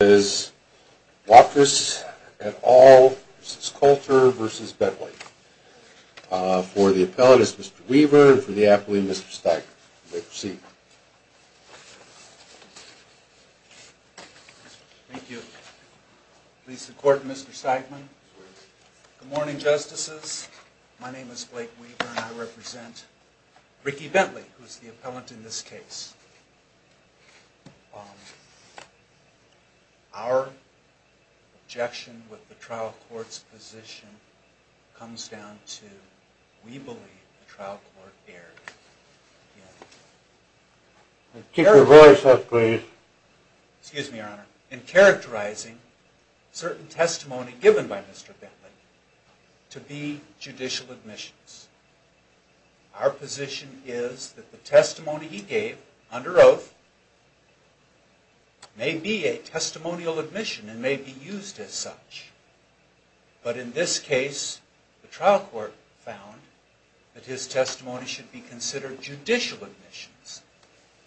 for the appellate is Mr. Weaver and for the appellate is Mr. Steigman. Please proceed. Thank you. Please support Mr. Steigman. Good morning, Justices. My name is Blake Weaver and I represent Ricky Bentley, who is the appellant in this case. Our objection with the trial court's position comes down to we believe the trial court erred in characterizing certain testimony given by Mr. Bentley to be judicial admissions. Our position is that the testimony he gave under oath may be a testimonial admission and may be used as such. But in this case, the trial court found that his testimony should be considered judicial admissions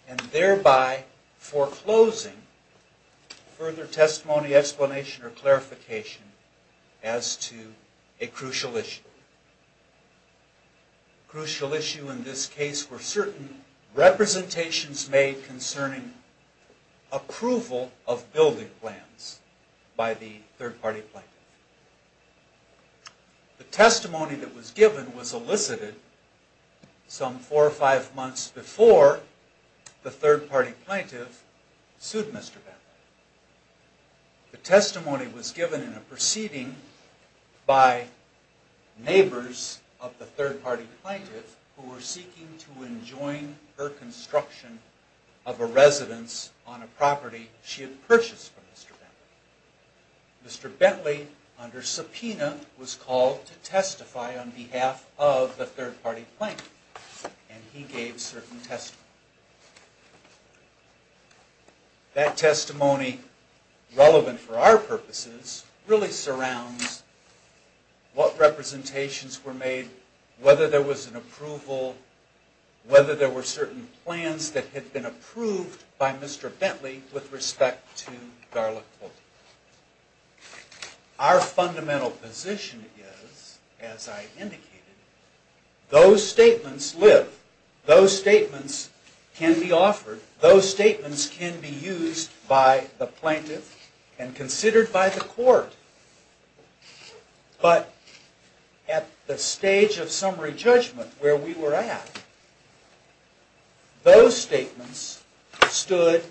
and thereby foreclosing further testimony, explanation, or clarification as to a crucial issue. A crucial issue in this case were certain representations made concerning approval of building plans by the third party plaintiff. The testimony that was given was elicited some four or five months before the third party plaintiff sued Mr. Bentley. The testimony was given in a proceeding by neighbors of the third party plaintiff who were seeking to enjoin her construction of a residence on a property she had purchased from Mr. Bentley. Mr. Bentley, under subpoena, was called to testify on behalf of the third party plaintiff and he gave certain testimony. That testimony, relevant for our purposes, really surrounds what representations were made, whether there was an approval, whether there were certain plans that had been approved by Mr. Bentley with respect to Garlick Building. Our fundamental position is, as I indicated, those statements live, those statements can be offered, those statements can be used by the plaintiff and considered by the court. But at the stage of summary judgment, where we were at, those statements stood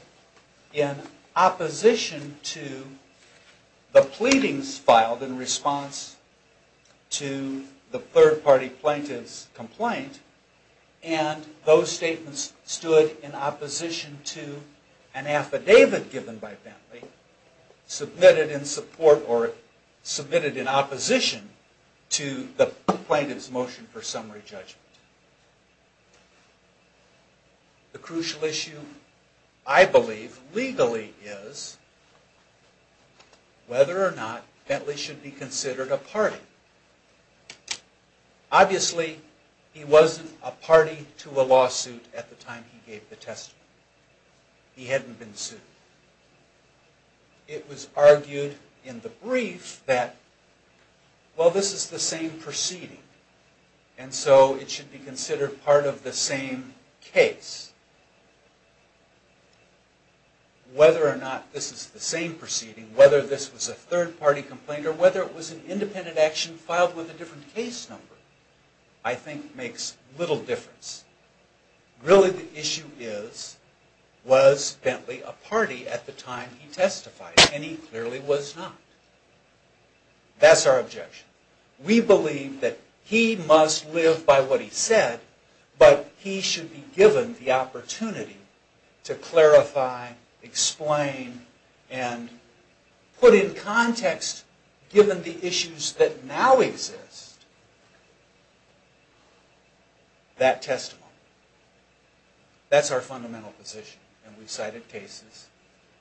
in opposition to the pleadings filed in response to the third party plaintiff's complaint and those statements stood in opposition to an affidavit given by Bentley, submitted in support or submitted in opposition to the plaintiff's motion for summary judgment. The crucial issue, I believe, legally is whether or not Bentley should be considered a party. Obviously, he wasn't a party to a lawsuit at the time he gave the testimony. He hadn't been sued. It was argued in the brief that, well this is the same proceeding and so it should be considered part of the same case. Whether or not this is the same proceeding, whether this was a third party complaint or whether it was an independent action filed with a different case number, I think makes little difference. Really the issue is, was Bentley a party at the time he testified? And he clearly was not. That's our objection. We believe that he must live by what he said, but he should be given the opportunity to clarify, explain, and put in context, given the issues that now exist, that testimony. That's our fundamental position and we've cited cases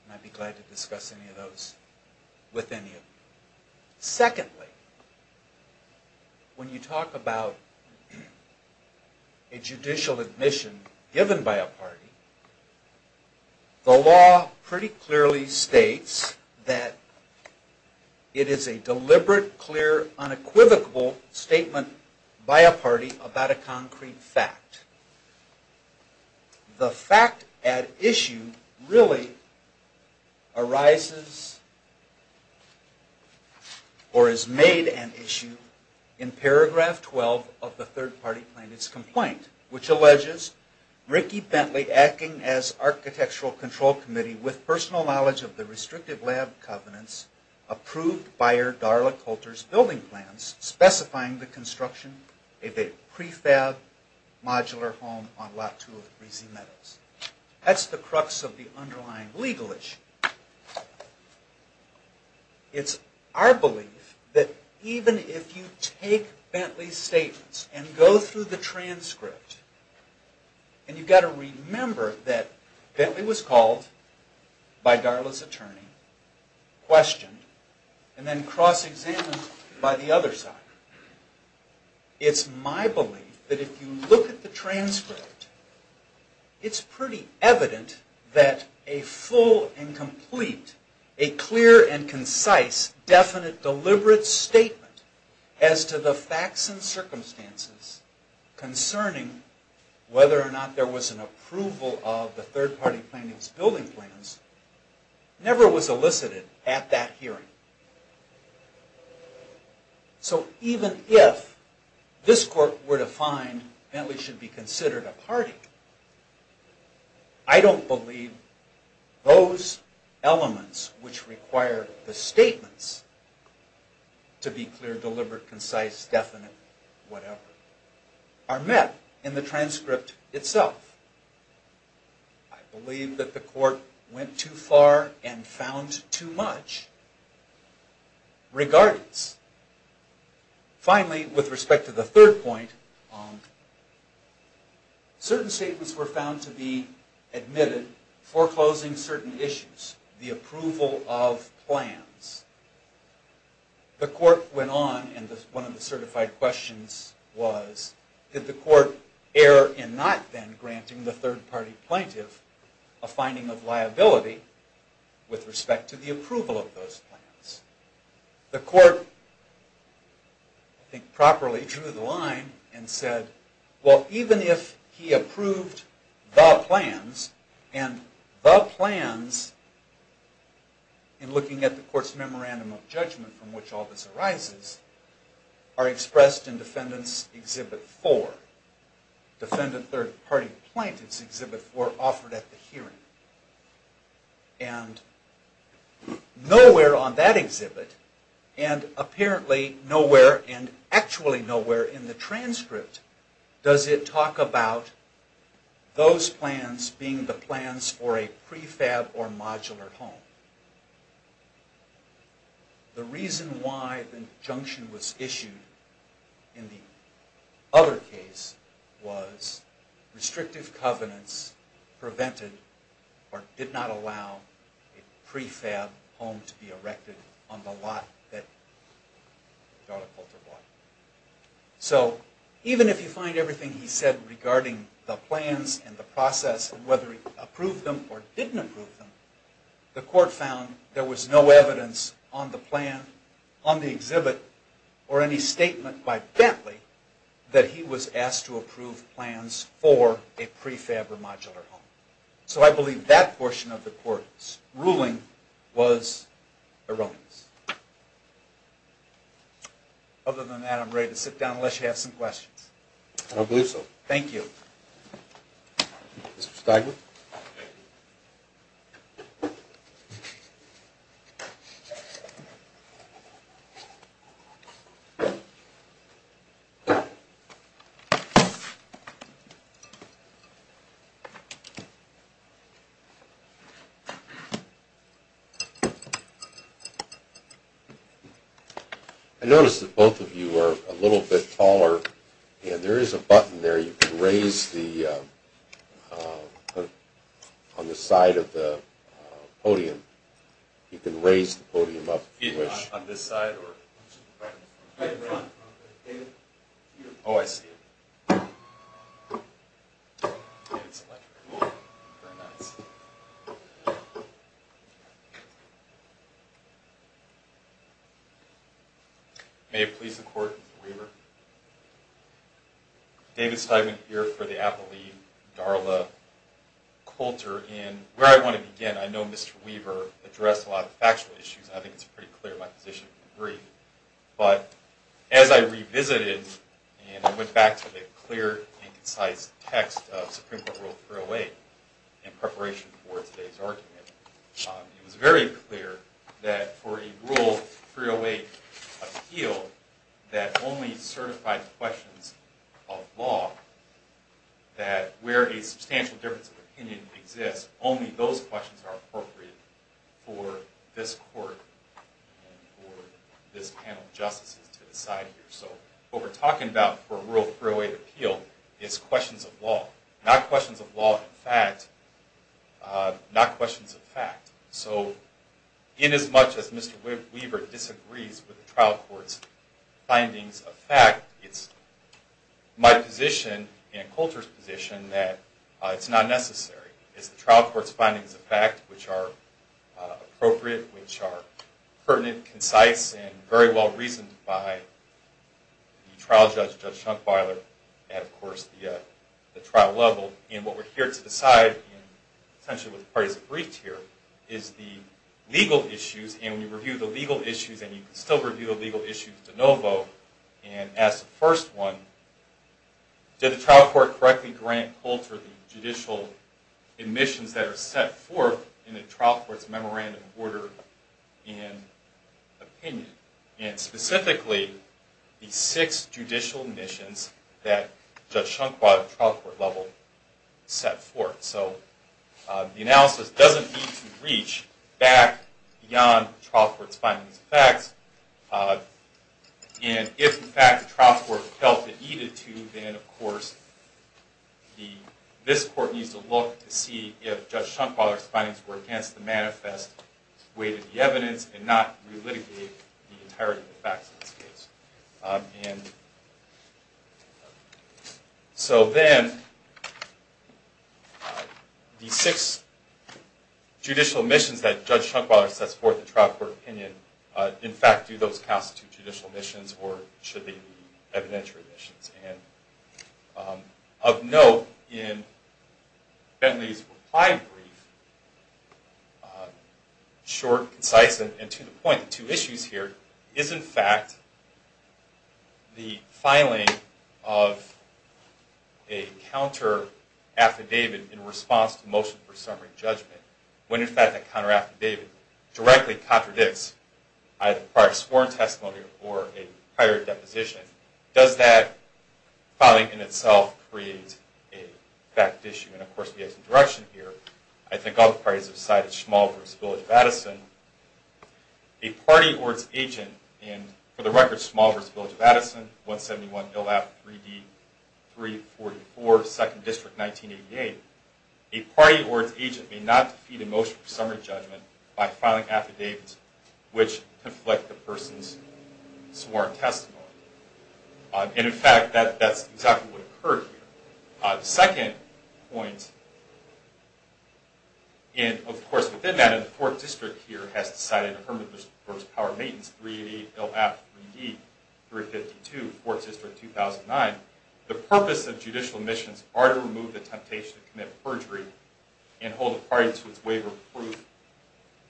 and I'd be glad to discuss any of those with any of you. Secondly, when you talk about a judicial admission given by a party, the law pretty clearly states that it is a deliberate, clear, unequivocal statement by a party about a concrete fact. The fact at issue really arises or is made an issue in paragraph 12 of the third party plaintiff's complaint, which alleges Ricky Bentley acting as architectural control committee with personal knowledge of the restrictive lab covenants approved by your Darla Coulter's building plans specifying the construction of a prefab modular home on Lot 2 of Breezy Meadows. That's the crux of the underlying legal issue. It's our belief that even if you take Bentley's statements and go through the transcript, and you've got to remember that Bentley was called by Darla's attorney, questioned, and then cross-examined by the other side. It's my belief that if you look at the transcript, it's pretty evident that a full and complete, a clear and concise, definite, deliberate statement as to the facts and circumstances concerning whether or not there was an approval of the third party plaintiff's building plans never was elicited at that hearing. So even if this court were to find Bentley should be considered a party, I don't believe those elements which require the statements to be clear, deliberate, concise, definite, whatever, are met in the transcript itself. I believe that the court went too far and found too much regarding this. Finally, with respect to the third point, certain statements were found to be admitted foreclosing certain issues. The approval of plans. The court went on, and one of the certified questions was, did the court err in not then granting the third party plaintiff a finding of liability with respect to the approval of those plans? The court, I think properly, drew the line and said, well, even if he approved the plans, and the plans, in looking at the court's memorandum of judgment from which all this arises, are expressed in Defendant's Exhibit 4. Defendant Third Party Plaintiff's Exhibit 4 offered at the hearing. And nowhere on that exhibit, and apparently nowhere, and actually nowhere in the transcript, does it talk about those plans being the plans for a prefab or modular home. The reason why the injunction was issued in the other case was restrictive covenants prevented or did not allow a prefab home to be erected on the lot that Charlotte Poulter bought. So, even if you find everything he said regarding the plans and the process, and whether he approved them or didn't approve them, the court found there was no evidence on the plan, on the exhibit, or any statement by Bentley that he was asked to approve plans for a prefab or modular home. So I believe that portion of the court's ruling was erroneous. Other than that, I'm ready to sit down unless you have some questions. I don't believe so. Thank you. Mr. Stiglitz. I notice that both of you are a little bit taller. And there is a button there you can raise on the side of the podium. You can raise the podium up if you wish. On this side? Right in front. Oh, I see. And it's electric. Very nice. May it please the court, Mr. Weaver. David Stiglitz here for the appellee, Darla Poulter. And where I want to begin, I know Mr. Weaver addressed a lot of factual issues, and I think it's pretty clear in my position to agree. But as I revisited and went back to the clear and concise text of Supreme Court Rule 308 in preparation for today's argument, it was very clear that for a Rule 308 appeal that only certified questions of law, that where a substantial difference of opinion exists, only those questions are appropriate for this court and for this panel of justices to decide here. So what we're talking about for a Rule 308 appeal is questions of law, not questions of law in fact, not questions of fact. So inasmuch as Mr. Weaver disagrees with the trial court's findings of fact, it's my position and Poulter's position that it's not necessary. It's the trial court's findings of fact which are appropriate, which are pertinent, concise, and very well reasoned by the trial judge, Judge Schunkweiler, and of course the trial level. And what we're here to decide, and essentially what the parties have briefed here, is the legal issues. And when you review the legal issues, and you can still review the legal issues de novo, and as the first one, did the trial court correctly grant Poulter the judicial admissions that are set forth in the trial court's memorandum of order and opinion? And specifically, the six judicial admissions that Judge Schunkweiler at the trial court level set forth. So the analysis doesn't need to reach back beyond the trial court's findings of fact. And if in fact the trial court felt it needed to, then of course this court needs to look to see if Judge Schunkweiler's findings were against the manifest weight of the evidence and not relitigate the entirety of the facts of this case. And so then, the six judicial admissions that Judge Schunkweiler sets forth in trial court opinion, in fact do those constitute judicial admissions, or should they be evidentiary admissions? And of note in Bentley's reply brief, short, concise, and to the point, two issues here is in fact the filing of a counter-affidavit in response to motion for summary judgment. When in fact that counter-affidavit directly contradicts either prior sworn testimony or a prior deposition, does that filing in itself create a fact issue? And of course we have some direction here. I think all the parties have cited Small v. Village of Addison. A party or its agent in, for the record, Small v. Village of Addison, 171 Hill Avenue, 3D, 344, 2nd District, 1988, a party or its agent may not defeat a motion for summary judgment by filing affidavits which conflict the person's sworn testimony. And in fact that's exactly what occurred here. The second point, and of course within that, and the 4th District here has decided to permit this for its power of maintenance, 388 Hill Avenue, 3D, 352, 4th District, 2009, the purpose of judicial admissions are to remove the temptation to commit perjury and hold a party to its waiver of proof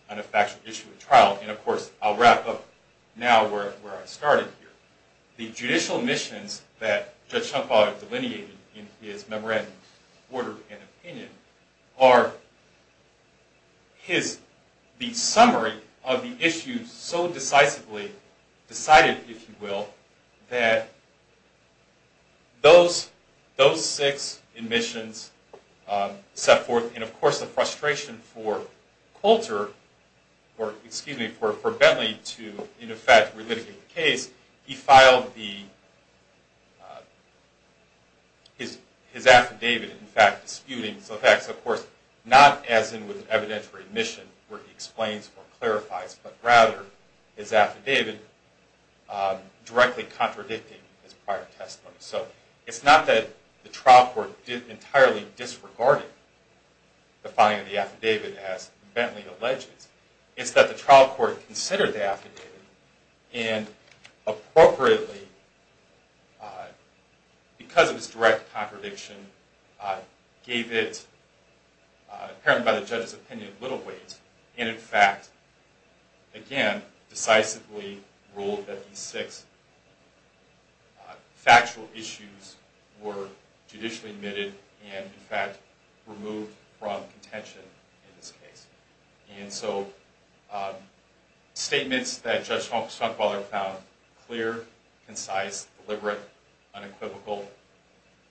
on a factual issue of trial. And of course I'll wrap up now where I started here. The judicial admissions that Judge Schumpauer delineated in his memorandum of order and opinion are the summary of the issues so decisively decided, if you will, that those six admissions set forth, and of course the frustration for Colter, or excuse me, for Bentley to in effect relitigate the case, he filed his affidavit in fact disputing, so in fact of course not as in evidentiary admission where he explains or clarifies, but rather his affidavit directly contradicting his prior testimony. So it's not that the trial court entirely disregarded the filing of the affidavit as Bentley alleges, it's that the trial court considered the affidavit and appropriately, because of its direct contradiction, gave it apparent by the judge's opinion little weight and in fact again decisively ruled that these six factual issues were judicially admitted and in fact removed from contention in this case. And so statements that Judge Schumpauer found clear, concise, deliberate, unequivocal,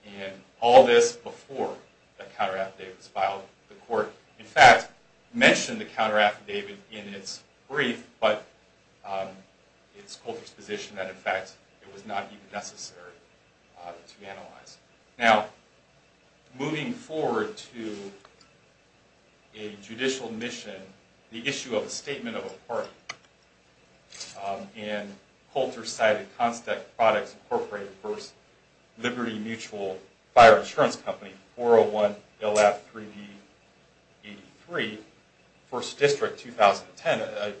and all this before the counter affidavit was filed, the court in fact mentioned the counter affidavit in its brief, but it's Colter's position that in fact it was not even necessary to analyze. Now, moving forward to a judicial mission, the issue of a statement of a party, and Colter cited Constec Products Incorporated versus Liberty Mutual Fire Insurance Company, 401 LF 3B 83, 1st District, 2010,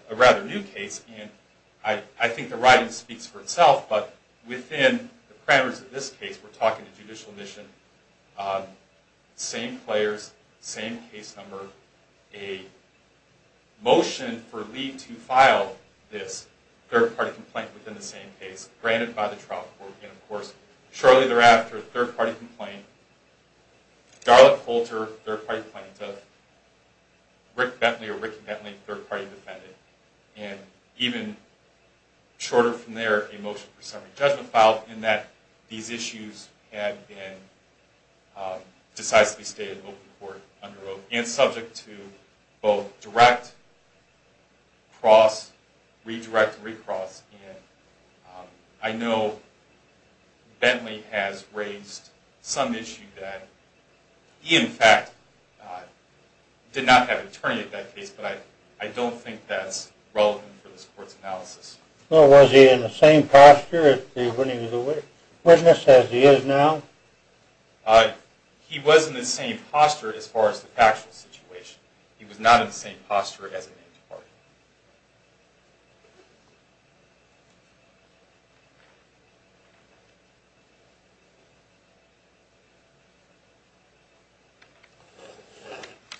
a rather new case, and I think the writing speaks for itself, but within the parameters of this case, we're talking a judicial mission, same players, same case number, a motion for Lee to file this third-party complaint within the same case, granted by the trial court, and of course shortly thereafter, third-party complaint, Darla Colter, third-party plaintiff, Rick Bentley or Ricky Bentley, third-party defendant, and even shorter from there, a motion for summary judgment filed, in that these issues have been decisively stated open court, under oath, and subject to both direct, cross, redirect, recross, and I know Bentley has raised some issue that he in fact did not have an attorney at that case, but I don't think that's relevant for this court's analysis. Well, was he in the same posture when he was a witness as he is now? He was in the same posture as far as the factual situation. He was not in the same posture as a named party.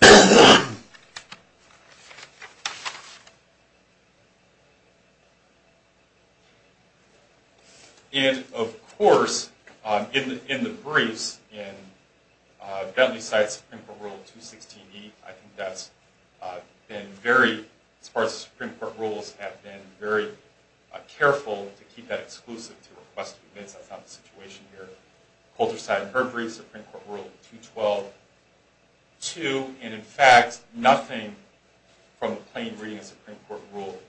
And of course, in the briefs in Bentley's Supreme Court Rule 216e, I think that's been very, as far as the Supreme Court rules have been, very careful to keep that exclusive to request to be admitted. That's not the situation here. Colter's side of the herbary, Supreme Court Rule 212-2, and in fact, nothing from the plain reading of Supreme Court Rule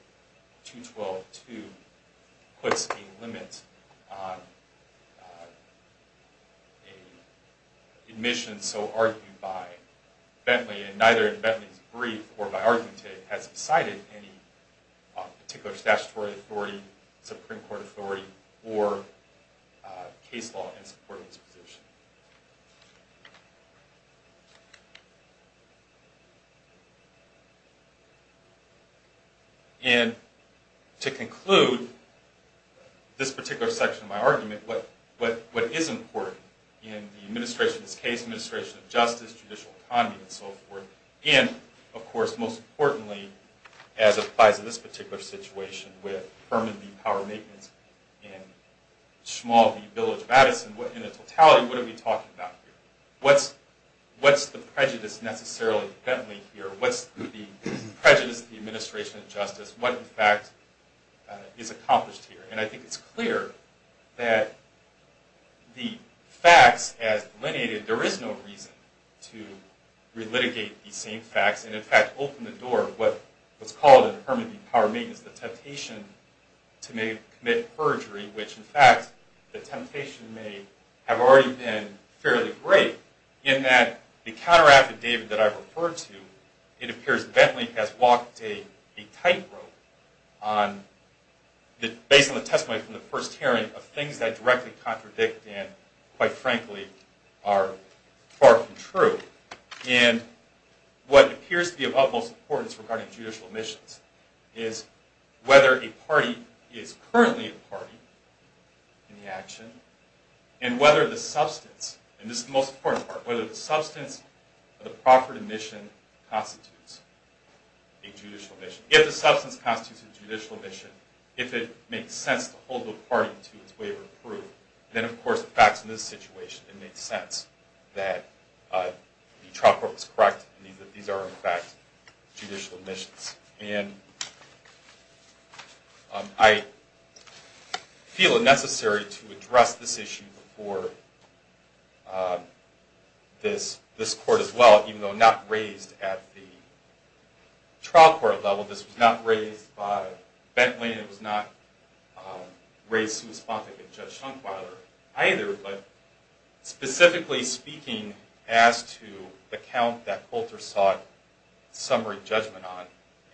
212-2 puts a limit on an admission so argued by Bentley, and neither in Bentley's brief or by argument today has he cited any particular statutory authority, Supreme Court authority, or case law in supporting his position. And to conclude this particular section of my argument, what is important in the administration of this case, administration of justice, judicial economy, and so forth, and of course, most importantly, as applies to this particular situation with Herman B. Power Maintenance and Shmuel B. Village Madison, in a totality, what are we talking about here? What's the prejudice necessarily in Bentley here? What's the prejudice of the administration of justice? What, in fact, is accomplished here? And I think it's clear that the facts, as delineated, there is no reason to relitigate these same facts, and in fact, open the door of what's called in Herman B. Power Maintenance the temptation to commit perjury, which, in fact, the temptation may have already been fairly great, in that the counter-affidavit that I referred to, it appears Bentley has walked a tightrope, based on the testimony from the first hearing, of things that directly contradict and, quite frankly, are far from true. And what appears to be of utmost importance regarding judicial admissions is whether a party is currently a party in the action, and whether the substance, and this is the most important part, whether the substance of the proffered admission constitutes a judicial admission. If the substance constitutes a judicial admission, if it makes sense to hold the party to its waiver of proof, then, of course, the facts in this situation, it makes sense that the trial court was correct, and that these are, in fact, judicial admissions. And I feel it necessary to address this issue before this court as well, even though not raised at the trial court level, this was not raised by Bentley, and it was not raised to respond to Judge Schunkweiler either, but specifically speaking as to the count that Coulter sought summary judgment on,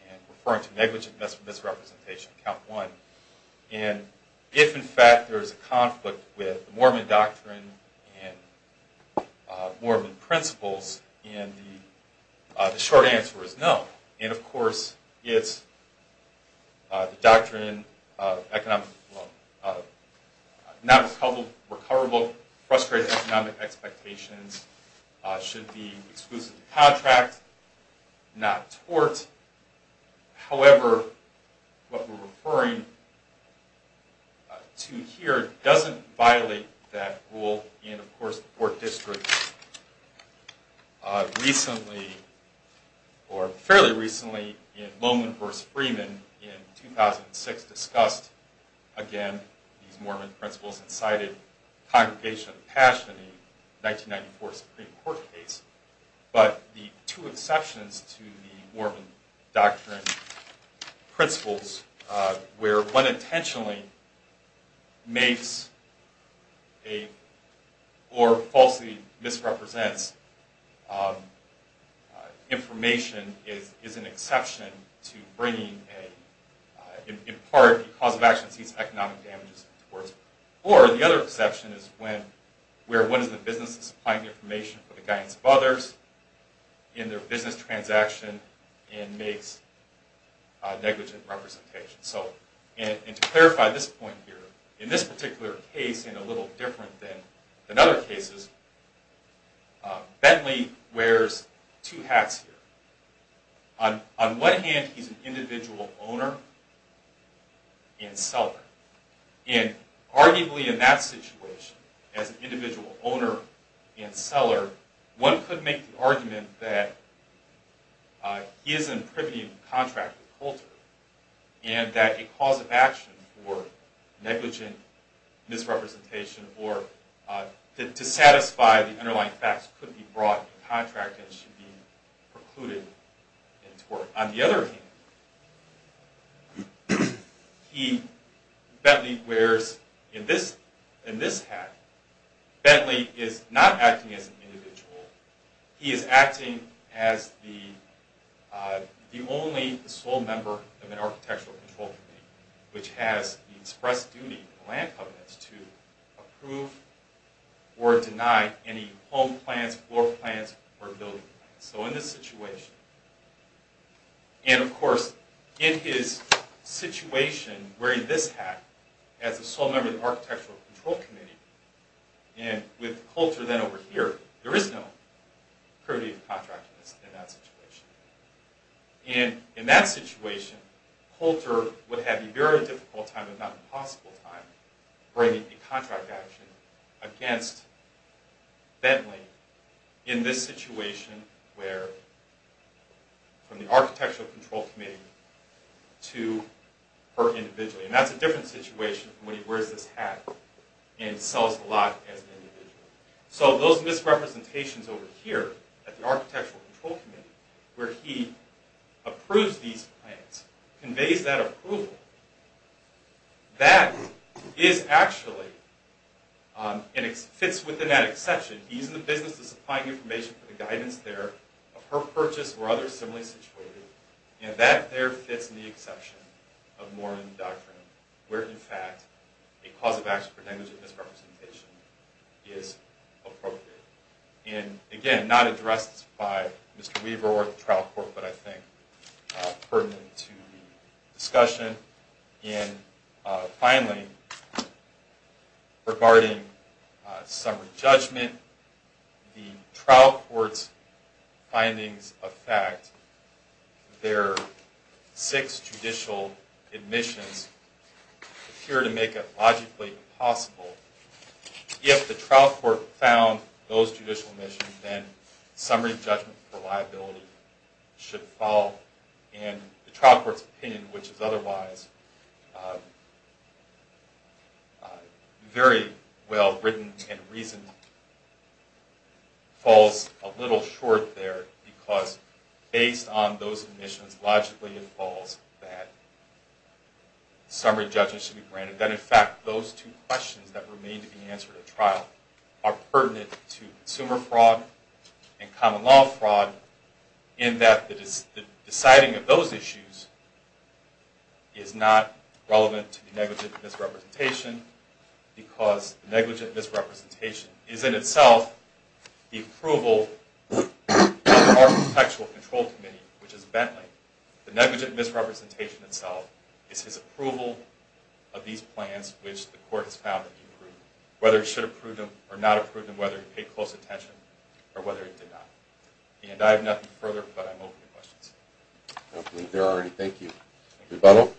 and referring to negligent misrepresentation, count one, and if, in fact, there is a conflict with Mormon doctrine and Mormon principles, and the short answer is no. And, of course, it's the doctrine of non-recoverable frustrated economic expectations should be exclusively contract, not tort. However, what we're referring to here doesn't violate that rule, and, of course, the court district recently, or fairly recently, in Lowman v. Freeman in 2006 discussed, again, these Mormon principles and cited Congregation of the Passion in the 1994 Supreme Court case, but the two exceptions to the Mormon doctrine principles where one intentionally makes a, or falsely misrepresents information is an exception to bringing a, in part, cause of action sees economic damages towards, or the other exception is where one is the business supplying information for the guidance of others in their business transaction and makes negligent representation. So, and to clarify this point here, in this particular case, and a little different than other cases, Bentley wears two hats here. On one hand, he's an individual owner and seller. And, arguably, in that situation, as an individual owner and seller, one could make the argument that he is in privy to contract with Holter and that a cause of action for negligent misrepresentation, or to satisfy the underlying facts, could be brought to contract and should be precluded in tort. On the other hand, he, Bentley, wears, in this hat, Bentley is not acting as an individual. He is acting as the only sole member of an architectural control committee, which has the express duty of the land covenants to approve or deny any home plans, floor plans, or building plans. So, in this situation, and of course, in his situation, wearing this hat, as a sole member of the architectural control committee, and with Holter then over here, there is no privity of contract in that situation. And, in that situation, Holter would have a very difficult time, if not an impossible time, bringing a contract action against Bentley, in this situation where, from the architectural control committee to her individually. And that's a different situation from when he wears this hat and sells the lot as an individual. So, those misrepresentations over here, at the architectural control committee, where he approves these plans, conveys that approval, that is actually, and it fits within that exception, he's in the business of supplying information for the guidance there, of her purchase, or others similarly situated, and that there fits in the exception of Mormon doctrine, where in fact, a cause of action for negligent misrepresentation is appropriate. And, again, not addressed by Mr. Weaver or the trial court, but I think pertinent to the discussion. And, finally, regarding summary judgment, the trial court's findings of fact, their six judicial admissions, appear to make it logically possible, if the trial court found those judicial admissions, then summary judgment for liability should fall in the trial court's opinion, which is otherwise very well written and reasoned, falls a little short there, because based on those admissions, logically it falls that summary judgment should be granted, that in fact, those two questions that remain to be answered at trial, are pertinent to consumer fraud and common law fraud, in that the deciding of those issues is not relevant to the negligent misrepresentation, because negligent misrepresentation is in itself the approval of the architectural control committee, which is Bentley. The negligent misrepresentation itself is his approval of these plans, which the court has found that he approved, whether it should approve them or not approve them, whether he paid close attention or whether he did not. And I have nothing further, but I'm open to questions. I don't believe there are any. Thank you. Rebuttal.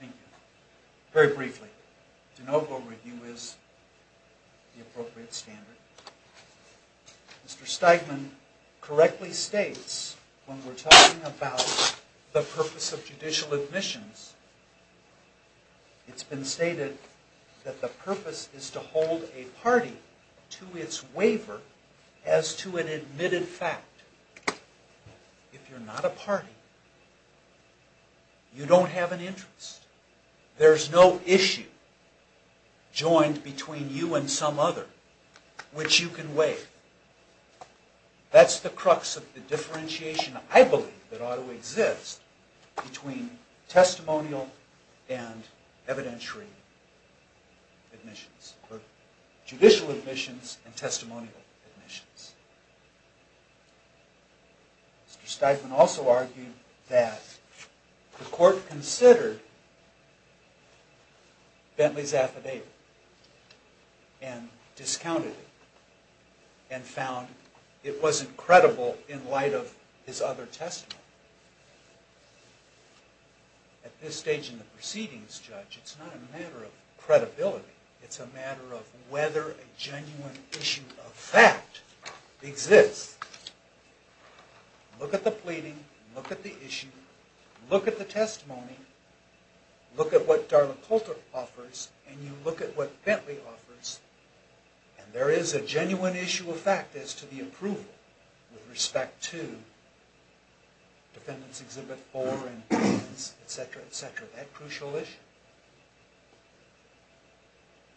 Thank you. Very briefly, de novo review is the appropriate standard. Mr. Steigman correctly states, when we're talking about the purpose of judicial admissions, it's been stated that the purpose is to hold a party to its waiver as to an admitted fact. If you're not a party, you don't have an interest. There's no issue joined between you and some other which you can waive. That's the crux of the differentiation, I believe, that ought to exist between testimonial and evidentiary admissions, or judicial admissions and testimonial admissions. Mr. Steigman also argued that the court considered Bentley's affidavit and discounted it and found it wasn't credible in light of his other testimony. At this stage in the proceedings, Judge, it's not a matter of credibility. It's a matter of whether a genuine issue of fact exists. Look at the pleading, look at the issue, look at the testimony, look at what Darla Coulter offers, and you look at what Bentley offers, and there is a genuine issue of fact as to the approval with respect to Defendants Exhibit 4 and 3, etc., etc. That crucial issue.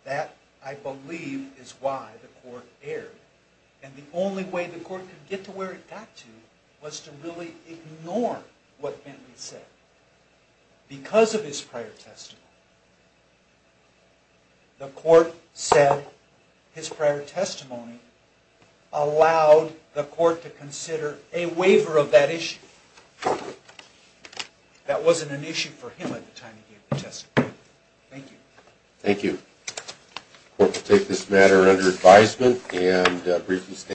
That, I believe, is why the court erred. And the only way the court could get to where it got to was to really ignore what Bentley said. Because of his prior testimony, the court said his prior testimony allowed the court to consider a waiver of that issue. That wasn't an issue for him at the time he gave the testimony. Thank you. Thank you. The court will take this matter under advisement and a brief...